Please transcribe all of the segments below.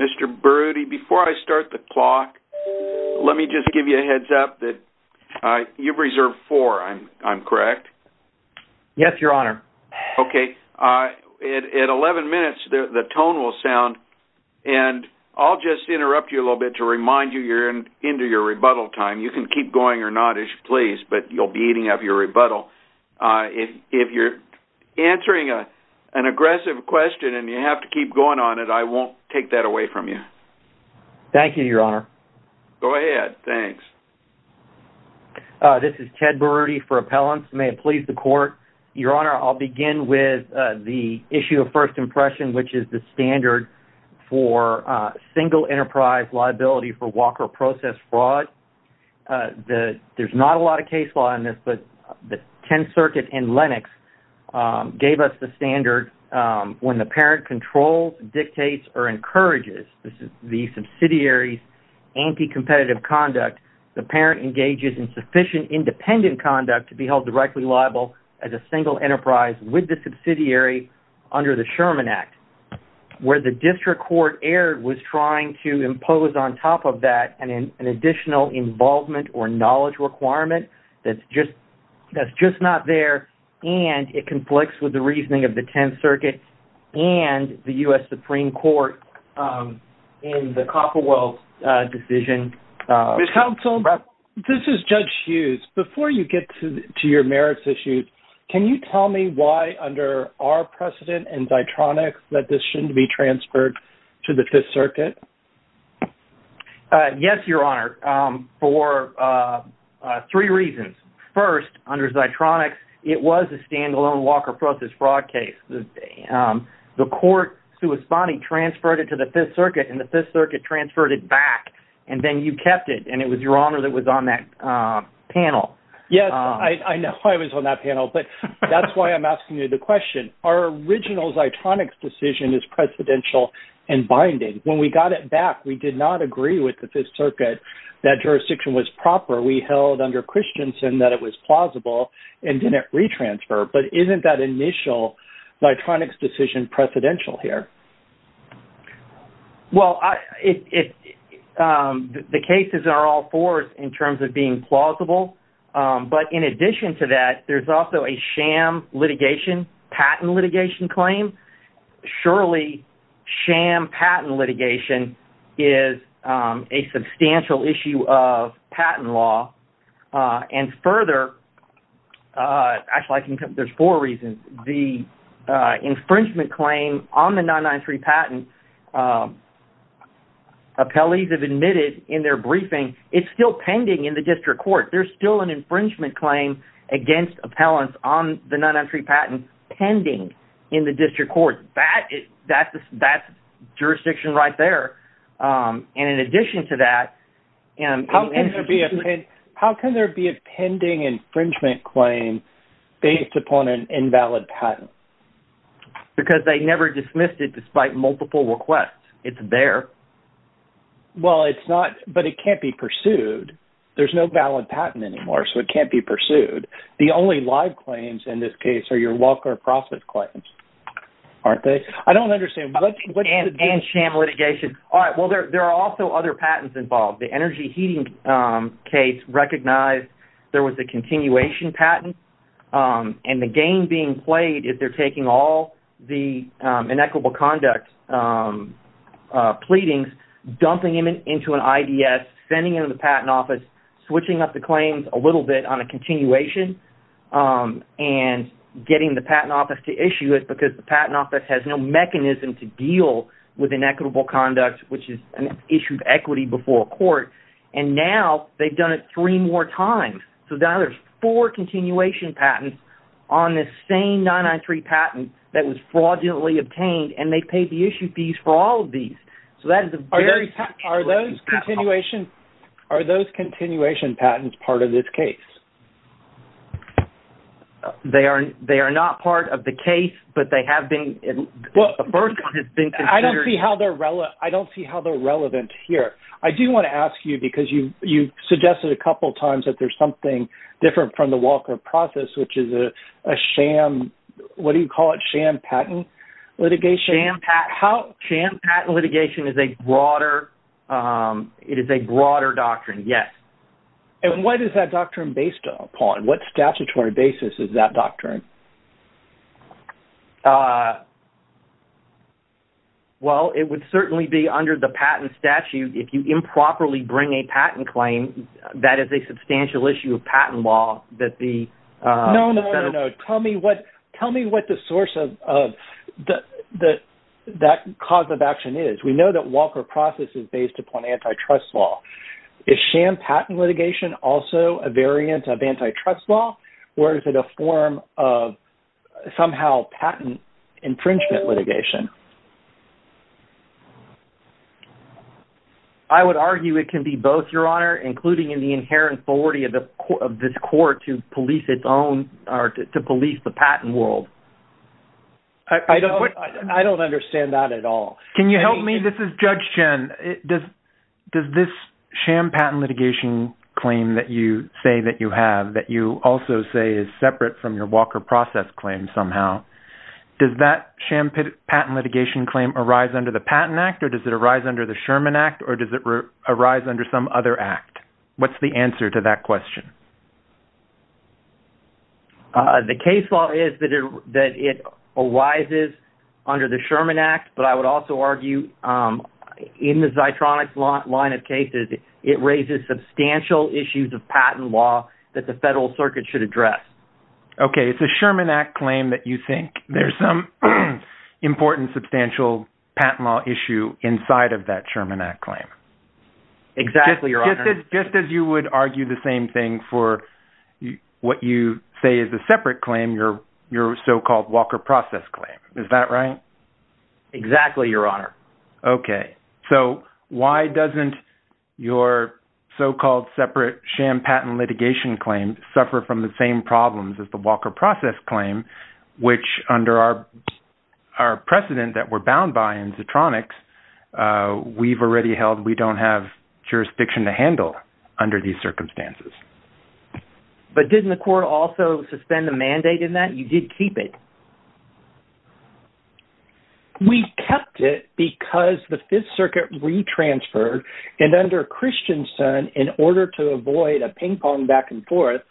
Mr. Brody, before I start the clock, let me just give you a heads up that you've reserved four, I'm correct? Yes, your honor. Okay, at 11 minutes the tone will sound and I'll just interrupt you a little bit to remind you you're into your rebuttal time. You can keep going or not as you please, but you'll be eating up your rebuttal. If you're answering an aggressive question and you have to keep going on it, I won't take that away from you. Thank you, your honor. Go ahead, thanks. This is Ted Brody for Appellants, may it please the court. Your honor, I'll begin with the issue of first impression, which is the standard for single enterprise liability for Walker process fraud. There's not a lot of case law in this, but the 10th circuit and Lennox gave us the standard when the parent controls, dictates, or encourages the subsidiary's anti-competitive conduct, the parent engages in sufficient independent conduct to be held directly liable as a single enterprise with the subsidiary under the Sherman Act. Where the district court error was trying to impose on top of that an additional involvement or knowledge requirement that's just not there, and it conflicts with the reasoning of the 10th circuit and the U.S. Supreme Court in the Copperwell decision. Judge Hughes, before you get to your merits issues, can you tell me why under our precedent and Zitronix that this shouldn't be transferred to the 5th circuit? Yes, your honor, for three reasons. First, under Zitronix, it was a standalone Walker process fraud case. The court corresponding transferred it to the 5th circuit and the 5th circuit transferred it back, and then you kept it, and it was your honor that was on that panel. Yes, I am asking you the question. Our original Zitronix decision is precedential and binding. When we got it back, we did not agree with the 5th circuit that jurisdiction was proper. We held under Christensen that it was plausible and didn't retransfer, but isn't that initial Zitronix decision precedential here? Well, the cases are all four in terms of being plausible, but in addition to that, there's also a sham litigation, patent litigation claim. Surely sham patent litigation is a substantial issue of patent law, and further, actually there's four reasons. The infringement claim on the 993 patent, appellees have admitted in their case that there's still an infringement claim against appellants on the 993 patent pending in the district court. That's jurisdiction right there, and in addition to that- How can there be a pending infringement claim based upon an invalid patent? Because they never dismissed it despite multiple requests. It's there. Well, it's not, but it can't be pursued. There's no valid patent anymore, so it can't be pursued. The only live claims in this case are your walker process claims, aren't they? I don't understand- And sham litigation. All right, well, there are also other patents involved. The energy heating case recognized there was a continuation patent, and the game being played is they're taking all the inequitable conduct pleadings, dumping them into an IDS, sending them to the patent office, switching up the claims a little bit on a continuation, and getting the patent office to issue it because the patent office has no mechanism to deal with inequitable conduct, which is an issue of equity before court, and now they've done it three more times. So now there's four continuation patents on this same 993 patent that was fraudulently obtained, and they paid the issue fees for all of these. So that is a very- Are those continuation patents part of this case? They are not part of the case, but they have been- I don't see how they're relevant here. I do want to ask you, because you suggested a couple of times that there's something different from the walker process, which is a sham- what do you call it? Sham patent litigation? Sham patent litigation is a broader- it is a broader doctrine, yes. And what is that doctrine based upon? What statutory basis is that doctrine? Well, it would certainly be under the patent statute. If you improperly bring a patent claim, that is a substantial issue of patent law that the- No, no, no, no. Tell me what the source of that cause of action is. We know that walker process is based upon antitrust law. Is sham patent litigation also a variant of antitrust law, or is it a form of somehow patent infringement litigation? I would argue it can be both, Your Honor, including in the inherent authority of this court to police its own- or to police the patent world. I don't understand that at all. Can you help me? This is Judge Chen. Does this sham patent litigation claim that you say that you have, that you also say is separate from your patent litigation claim arise under the Patent Act, or does it arise under the Sherman Act, or does it arise under some other act? What's the answer to that question? The case law is that it arises under the Sherman Act, but I would also argue in the Zeitronic line of cases, it raises substantial issues of patent law that the federal circuit should address. Okay. It's a Sherman Act claim that you think there's some important substantial patent law issue inside of that Sherman Act claim. Exactly, Your Honor. Just as you would argue the same thing for what you say is a separate claim, your so-called walker process claim. Is that right? Exactly, Your Honor. Okay. So why doesn't your so-called separate sham patent litigation claim suffer from the problems as the walker process claim, which under our precedent that we're bound by in Zeitronics, we've already held we don't have jurisdiction to handle under these circumstances. But didn't the court also suspend the mandate in that? You did keep it. We kept it because the Fifth Circuit re-transferred, and under Christianson, in order to avoid a ping pong back and forth,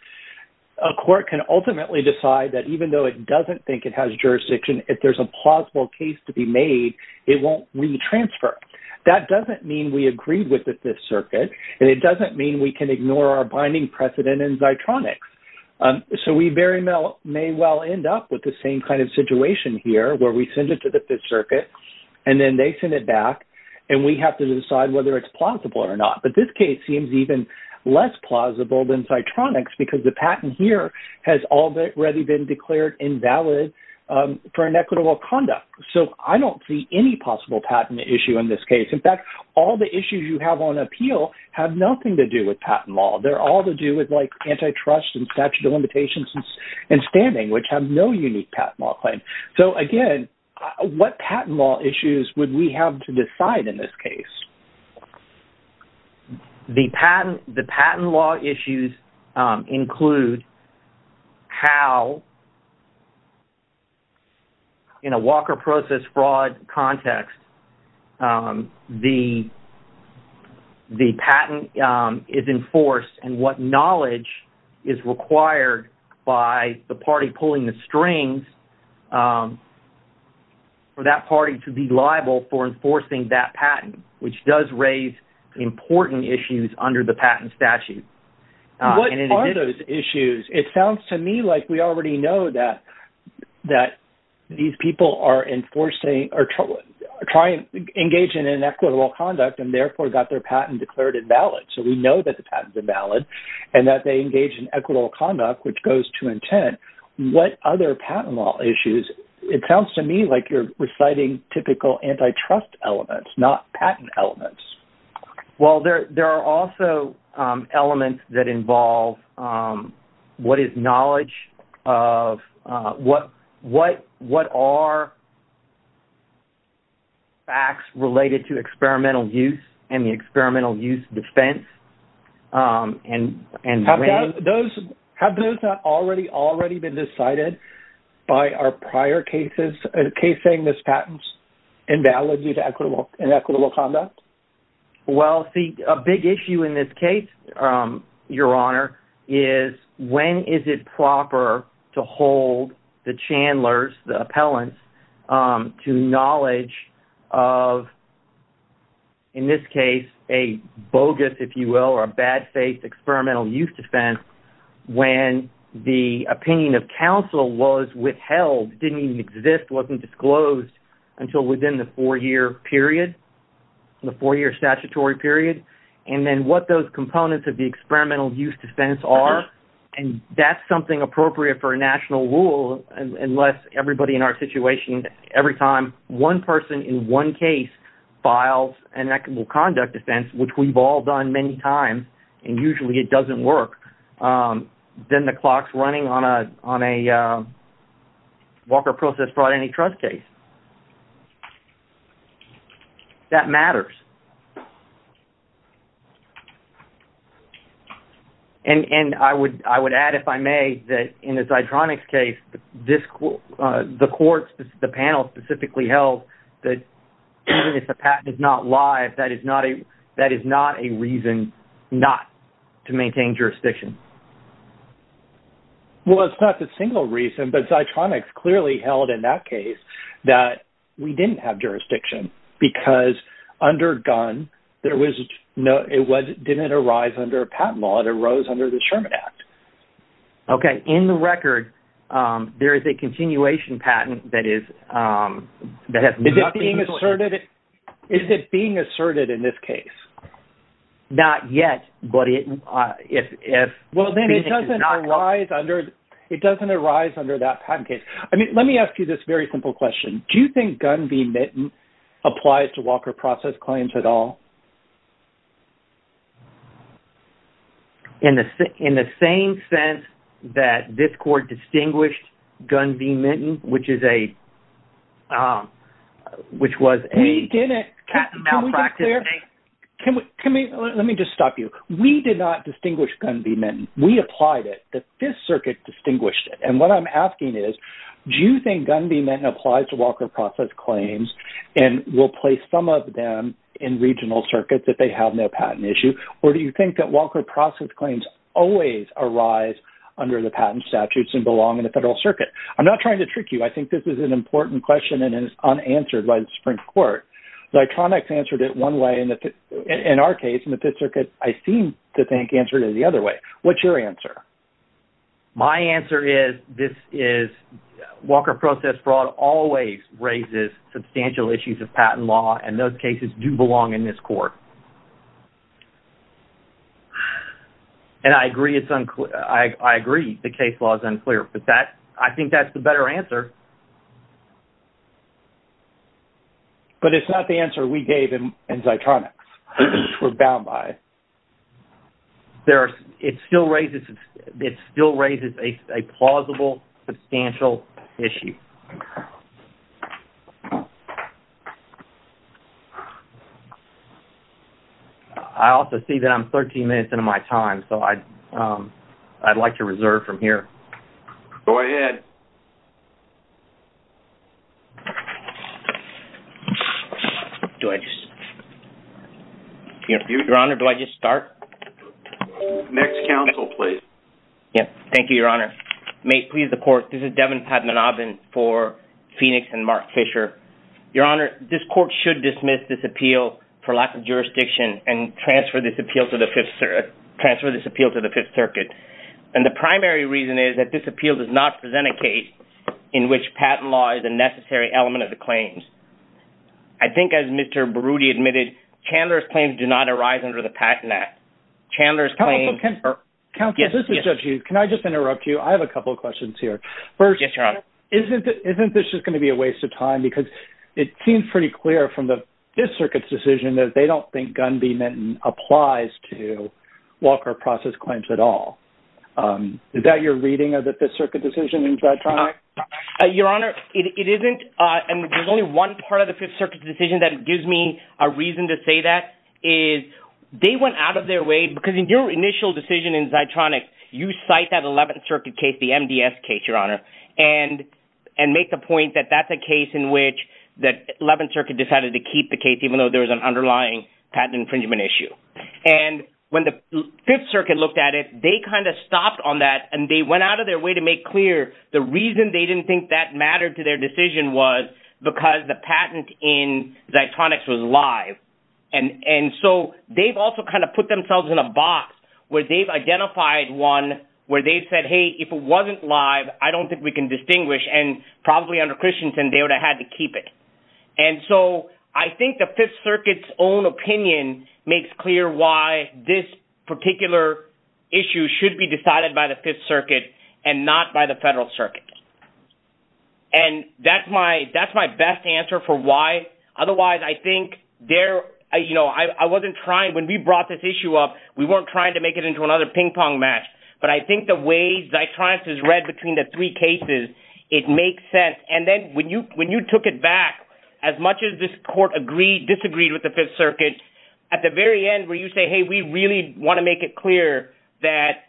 a court can ultimately decide that even though it doesn't think it has jurisdiction, if there's a plausible case to be made, it won't re-transfer. That doesn't mean we agreed with the Fifth Circuit, and it doesn't mean we can ignore our binding precedent in Zeitronics. So we very may well end up with the same kind of situation here where we send it to the Fifth Circuit, and then they send it back, and we have to decide whether it's plausible or not. But this case seems even less plausible than Zeitronics because the patent here has already been declared invalid for inequitable conduct. So I don't see any possible patent issue in this case. In fact, all the issues you have on appeal have nothing to do with patent law. They're all to do with like antitrust and statute of limitations and standing, which have no unique patent law claim. So again, what patent law issues would we have to decide in this case? The patent law issues include how in a Walker process fraud context, the patent is enforced and what knowledge is required by the party pulling the strings for that party to be liable for enforcing that which does raise important issues under the patent statute. What are those issues? It sounds to me like we already know that these people are trying to engage in inequitable conduct and therefore got their patent declared invalid. So we know that the patent is invalid and that they engage in equitable conduct, which goes to intent. What other patent law issues? It sounds to me like you're reciting typical antitrust elements, not patent elements. Well, there are also elements that involve what is knowledge of what are facts related to experimental use and the experimental use defense. Have those not already been decided by our prior cases, a case saying these patents invalid due to inequitable conduct? Well, see, a big issue in this case, Your Honor, is when is it proper to hold the Chandler's, the appellants, to knowledge of, in this case, a bogus, if you will, or a bad faith experimental use defense when the opinion of counsel was withheld, didn't even exist, wasn't disclosed until within the four-year period, the four-year statutory period, and then what those components of the experimental use defense are, and that's something appropriate for a national rule unless everybody in our situation, every time one person in one case files an inequitable conduct defense, which we've all done many times, and usually it doesn't work, then the clock's running on a Walker process brought antitrust case. That matters. And I would add, if I may, that in the Zeitronics case, the courts, the panel specifically held that even if a patent is not live, that is not a reason not to maintain jurisdiction. Well, it's not the single reason, but Zeitronics clearly held in that case that we didn't have jurisdiction because under Gunn, it didn't arise under a patent law. It arose under the Sherman Act. Okay. In the record, there is a being asserted... Is it being asserted in this case? Not yet, but if... Well, then it doesn't arise under that patent case. I mean, let me ask you this very simple question. Do you think Gunn v. Minton applies to Walker process claims at all? In the same sense that this court distinguished Gunn v. Minton, which is a patent malpractice... We didn't... Can we get clear? Let me just stop you. We did not distinguish Gunn v. Minton. We applied it. The Fifth Circuit distinguished it. And what I'm asking is, do you think Gunn v. Minton applies to Walker process claims and will place some of them in regional circuits if they have no patent issue? Or do you think that Walker process claims always arise under the patent statutes and belong in the Federal Circuit? I'm not trying to trick you. I think this is an important question and is unanswered by the Supreme Court. The electronics answered it one way. In our case, in the Fifth Circuit, I seem to think answered it the other way. What's your answer? My answer is Walker process fraud always raises substantial issues of patent law, and those cases do belong in this court. And I agree it's unclear. I agree the case law is unclear, but I think that's the better answer. But it's not the answer we gave in Zitronix, which we're bound by. There are... It still raises... It still raises a plausible substantial issue. I also see that I'm 13 minutes into my time, so I'd like to reserve from here. Go ahead. Do I just... Your Honor, do I just start? Next counsel, please. Yeah. Thank you, Your Honor. May it please the court, this is Devin Padmanabhan for Phoenix and Mark Fisher. Your Honor, this court should dismiss this appeal for lack of jurisdiction and transfer this appeal to the Fifth Circuit. And the primary reason is that this appeal does not present a case in which patent law is a necessary element of the claims. I think as Mr. Berruti admitted, Chandler's claims do not arise under the Patent Act. Counsel, this is Judge Hughes. Can I just interrupt you? I have a couple of questions here. First, isn't this just going to be a waste of time? Because it seems pretty clear from the Fifth Circuit's decision that they don't think Gunn v. Minton applies to Walker process claims at all. Is that your reading of the Fifth Circuit decision in Zitronic? Your Honor, it isn't. And there's only one part of the Fifth Circuit decision that gives me a reason to say that is they went out of their way... Because in your initial decision in Zitronic, you cite that Eleventh Circuit case, the MDS case, Your Honor, and make the point that that's a case in which the Eleventh Circuit decided to keep the case even though there was an underlying patent infringement issue. And when the Fifth Circuit looked at it, they kind of stopped on that and they went out of their way to make clear the reason they didn't think that mattered to their decision was because the patent in Zitronics was live. And so they've also kind of put themselves in a box where they've identified one where they've said, hey, if it wasn't live, I don't think we can distinguish. And probably under Christensen, they would have had to keep it. And so I think the Fifth Circuit's own opinion makes clear why this particular issue should be decided by the Fifth Circuit and not by the Federal Circuit. And that's my best answer for why. Otherwise, I think there... I wasn't trying... When we brought this issue up, we weren't trying to make it into another ping pong match. But I think the way when you took it back, as much as this court disagreed with the Fifth Circuit, at the very end where you say, hey, we really want to make it clear that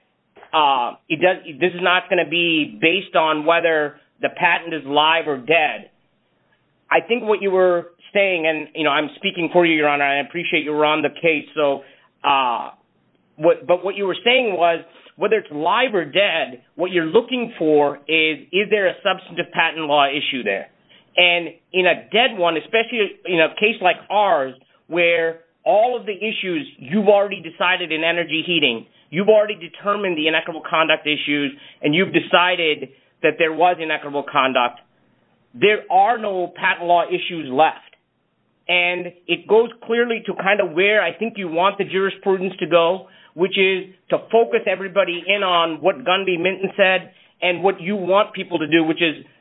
this is not going to be based on whether the patent is live or dead. I think what you were saying, and I'm speaking for you, Your Honor, I appreciate you were on the case. But what you were saying was whether it's there. And in a dead one, especially in a case like ours, where all of the issues you've already decided in energy heating, you've already determined the inequitable conduct issues, and you've decided that there was inequitable conduct, there are no patent law issues left. And it goes clearly to kind of where I think you want the jurisprudence to go, which is to focus everybody in on what Gundy Minton said and what you want people to do,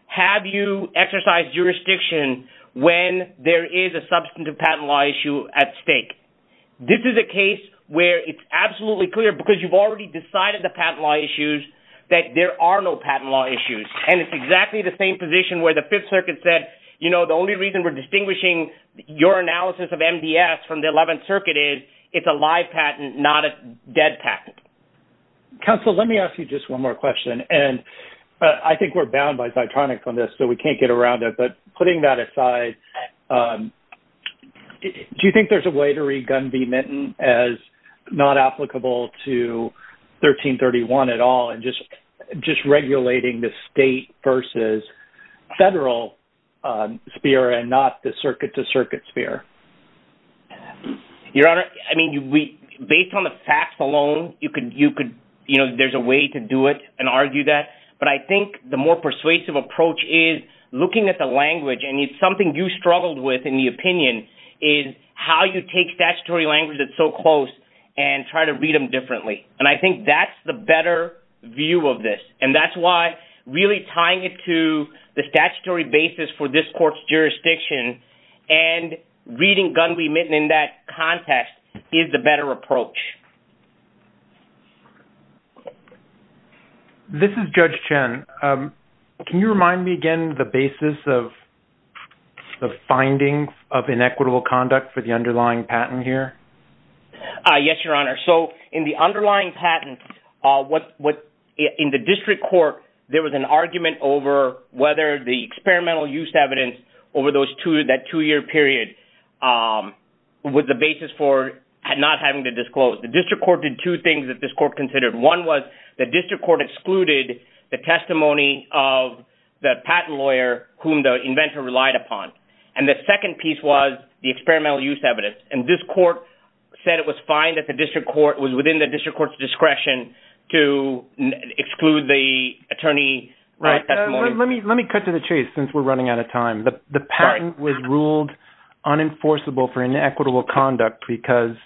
have you exercised jurisdiction when there is a substantive patent law issue at stake. This is a case where it's absolutely clear, because you've already decided the patent law issues, that there are no patent law issues. And it's exactly the same position where the Fifth Circuit said, you know, the only reason we're distinguishing your analysis of MDS from the Eleventh Circuit is it's a live patent, not a dead patent. Counsel, let me ask you just one more question. And I think we're bound by Zitronix on this, so we can't get around it. But putting that aside, do you think there's a way to read Gundy Minton as not applicable to 1331 at all and just, just regulating the state versus federal sphere and not the circuit to circuit sphere? Your Honor, I mean, based on the facts alone, you could, you know, there's a way to do it and argue that. But I think the more persuasive approach is looking at the language and it's something you struggled with in the opinion is how you take statutory language that's so close and try to read them differently. And I think that's the better view of this. And that's why really tying it to the statutory basis for this court's jurisdiction and reading Gundy Minton in that context is the better approach. This is Judge Chen. Can you remind me again, the basis of the findings of inequitable conduct for the underlying patent here? Yes, Your Honor. So in the underlying patent, what in the district court, there was an argument over whether the experimental use evidence over those two, that two year period was the basis for not having to disclose. The district court did two things that this court considered. One was the district court excluded the testimony of the patent lawyer whom the inventor relied upon. And the second piece was the experimental use evidence. And this said it was fine that the district court was within the district court's discretion to exclude the attorney. Let me cut to the chase since we're running out of time. The patent was ruled unenforceable for inequitable conduct because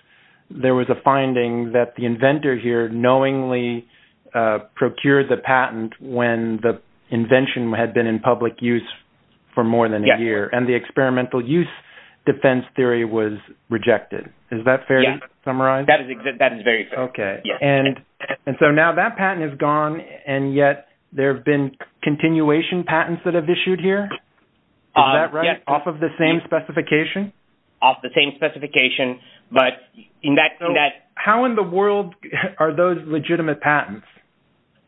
there was a finding that the inventor here knowingly procured the patent when the invention had been in public use for more than a year and the experimental use defense theory was rejected. Is that fair to summarize? That is very fair. Okay. And so now that patent is gone and yet there have been continuation patents that have issued here? Is that right? Off of the same specification? Off the same specification. But in that... How in the world are those legitimate patents?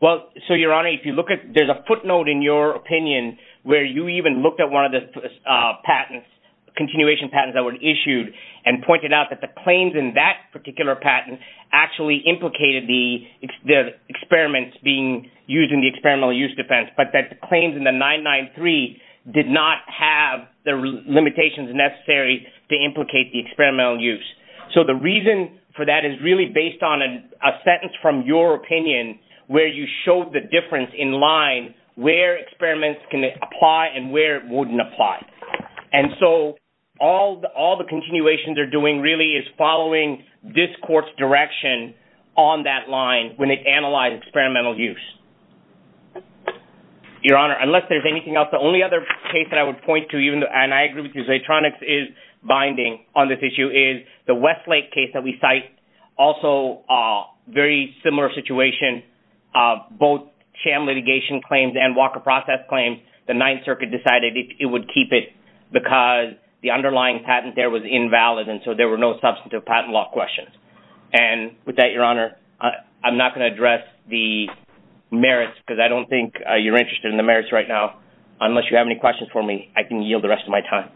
Well, so Your Honor, if you look at, there's a footnote in your opinion where you even looked one of the patents, continuation patents that were issued and pointed out that the claims in that particular patent actually implicated the experiments being used in the experimental use defense. But the claims in the 993 did not have the limitations necessary to implicate the experimental use. So the reason for that is really based on a sentence from your opinion where you apply. And so all the continuations they're doing really is following this court's direction on that line when they analyze experimental use. Your Honor, unless there's anything else, the only other case that I would point to, and I agree with you, Zaytronix is binding on this issue, is the Westlake case that we cite. Also a very similar situation, both sham litigation claims and Walker process claims, the Ninth Circuit decided it would keep it because the underlying patent there was invalid. And so there were no substantive patent law questions. And with that, Your Honor, I'm not going to address the merits because I don't think you're interested in the merits right now. Unless you have any questions for me, I can yield the rest of my time.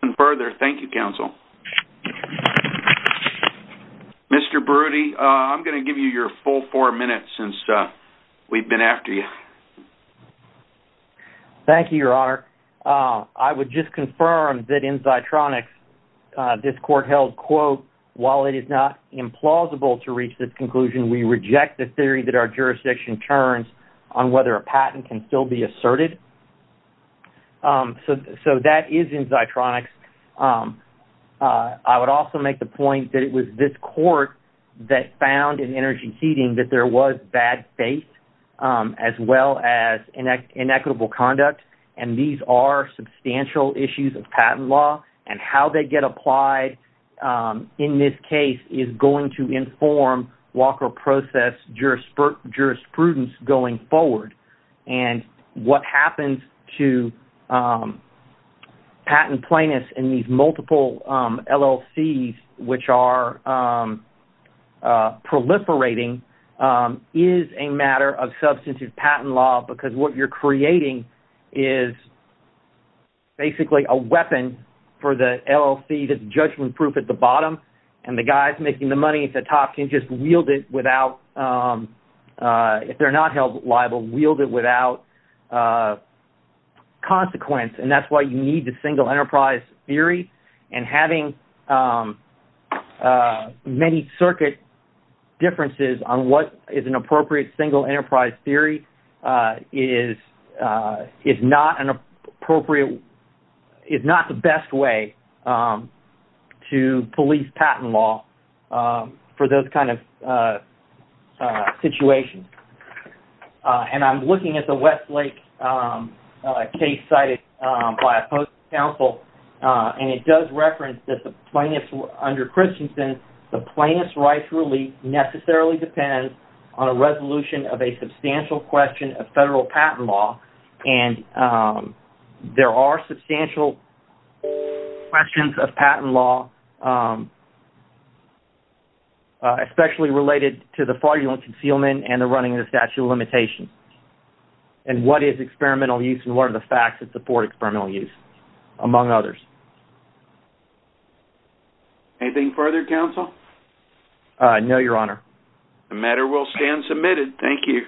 And further, thank you, counsel. Mr. Brody, I'm going to give you your full four minutes since we've been after you. Thank you, Your Honor. I would just confirm that in Zaytronix, this court held, quote, while it is not implausible to reach this conclusion, we reject the theory that our jurisdiction turns on whether a patent can still be asserted. So that is in Zaytronix. I would also make the point that it was this court that found in energy heating that there was bad faith as well as inequitable conduct. And these are substantial issues of patent law and how they get applied in this case is going to inform Walker process jurisprudence going forward. And what happens to patent plaintiffs in these multiple LLCs, which are proliferating, is a matter of substantive patent law because what you're creating is basically a weapon for the LLC that's judgment proof at the bottom and the guys making the without consequence. And that's why you need the single enterprise theory and having many circuit differences on what is an appropriate single enterprise theory is not an appropriate, is not the best way to police patent law for those kind of situations. And I'm looking at the Westlake case cited by a post-counsel and it does reference that the plaintiffs under Christensen, the plaintiff's rights really necessarily depends on a resolution of a substantial question of federal patent law. And there are substantial questions of patent law, especially related to the fraudulent concealment and the running of the statute of limitations. And what is experimental use and what are the facts that support experimental use, among others. Anything further, counsel? No, your honor. The matter will stand submitted. Thank you.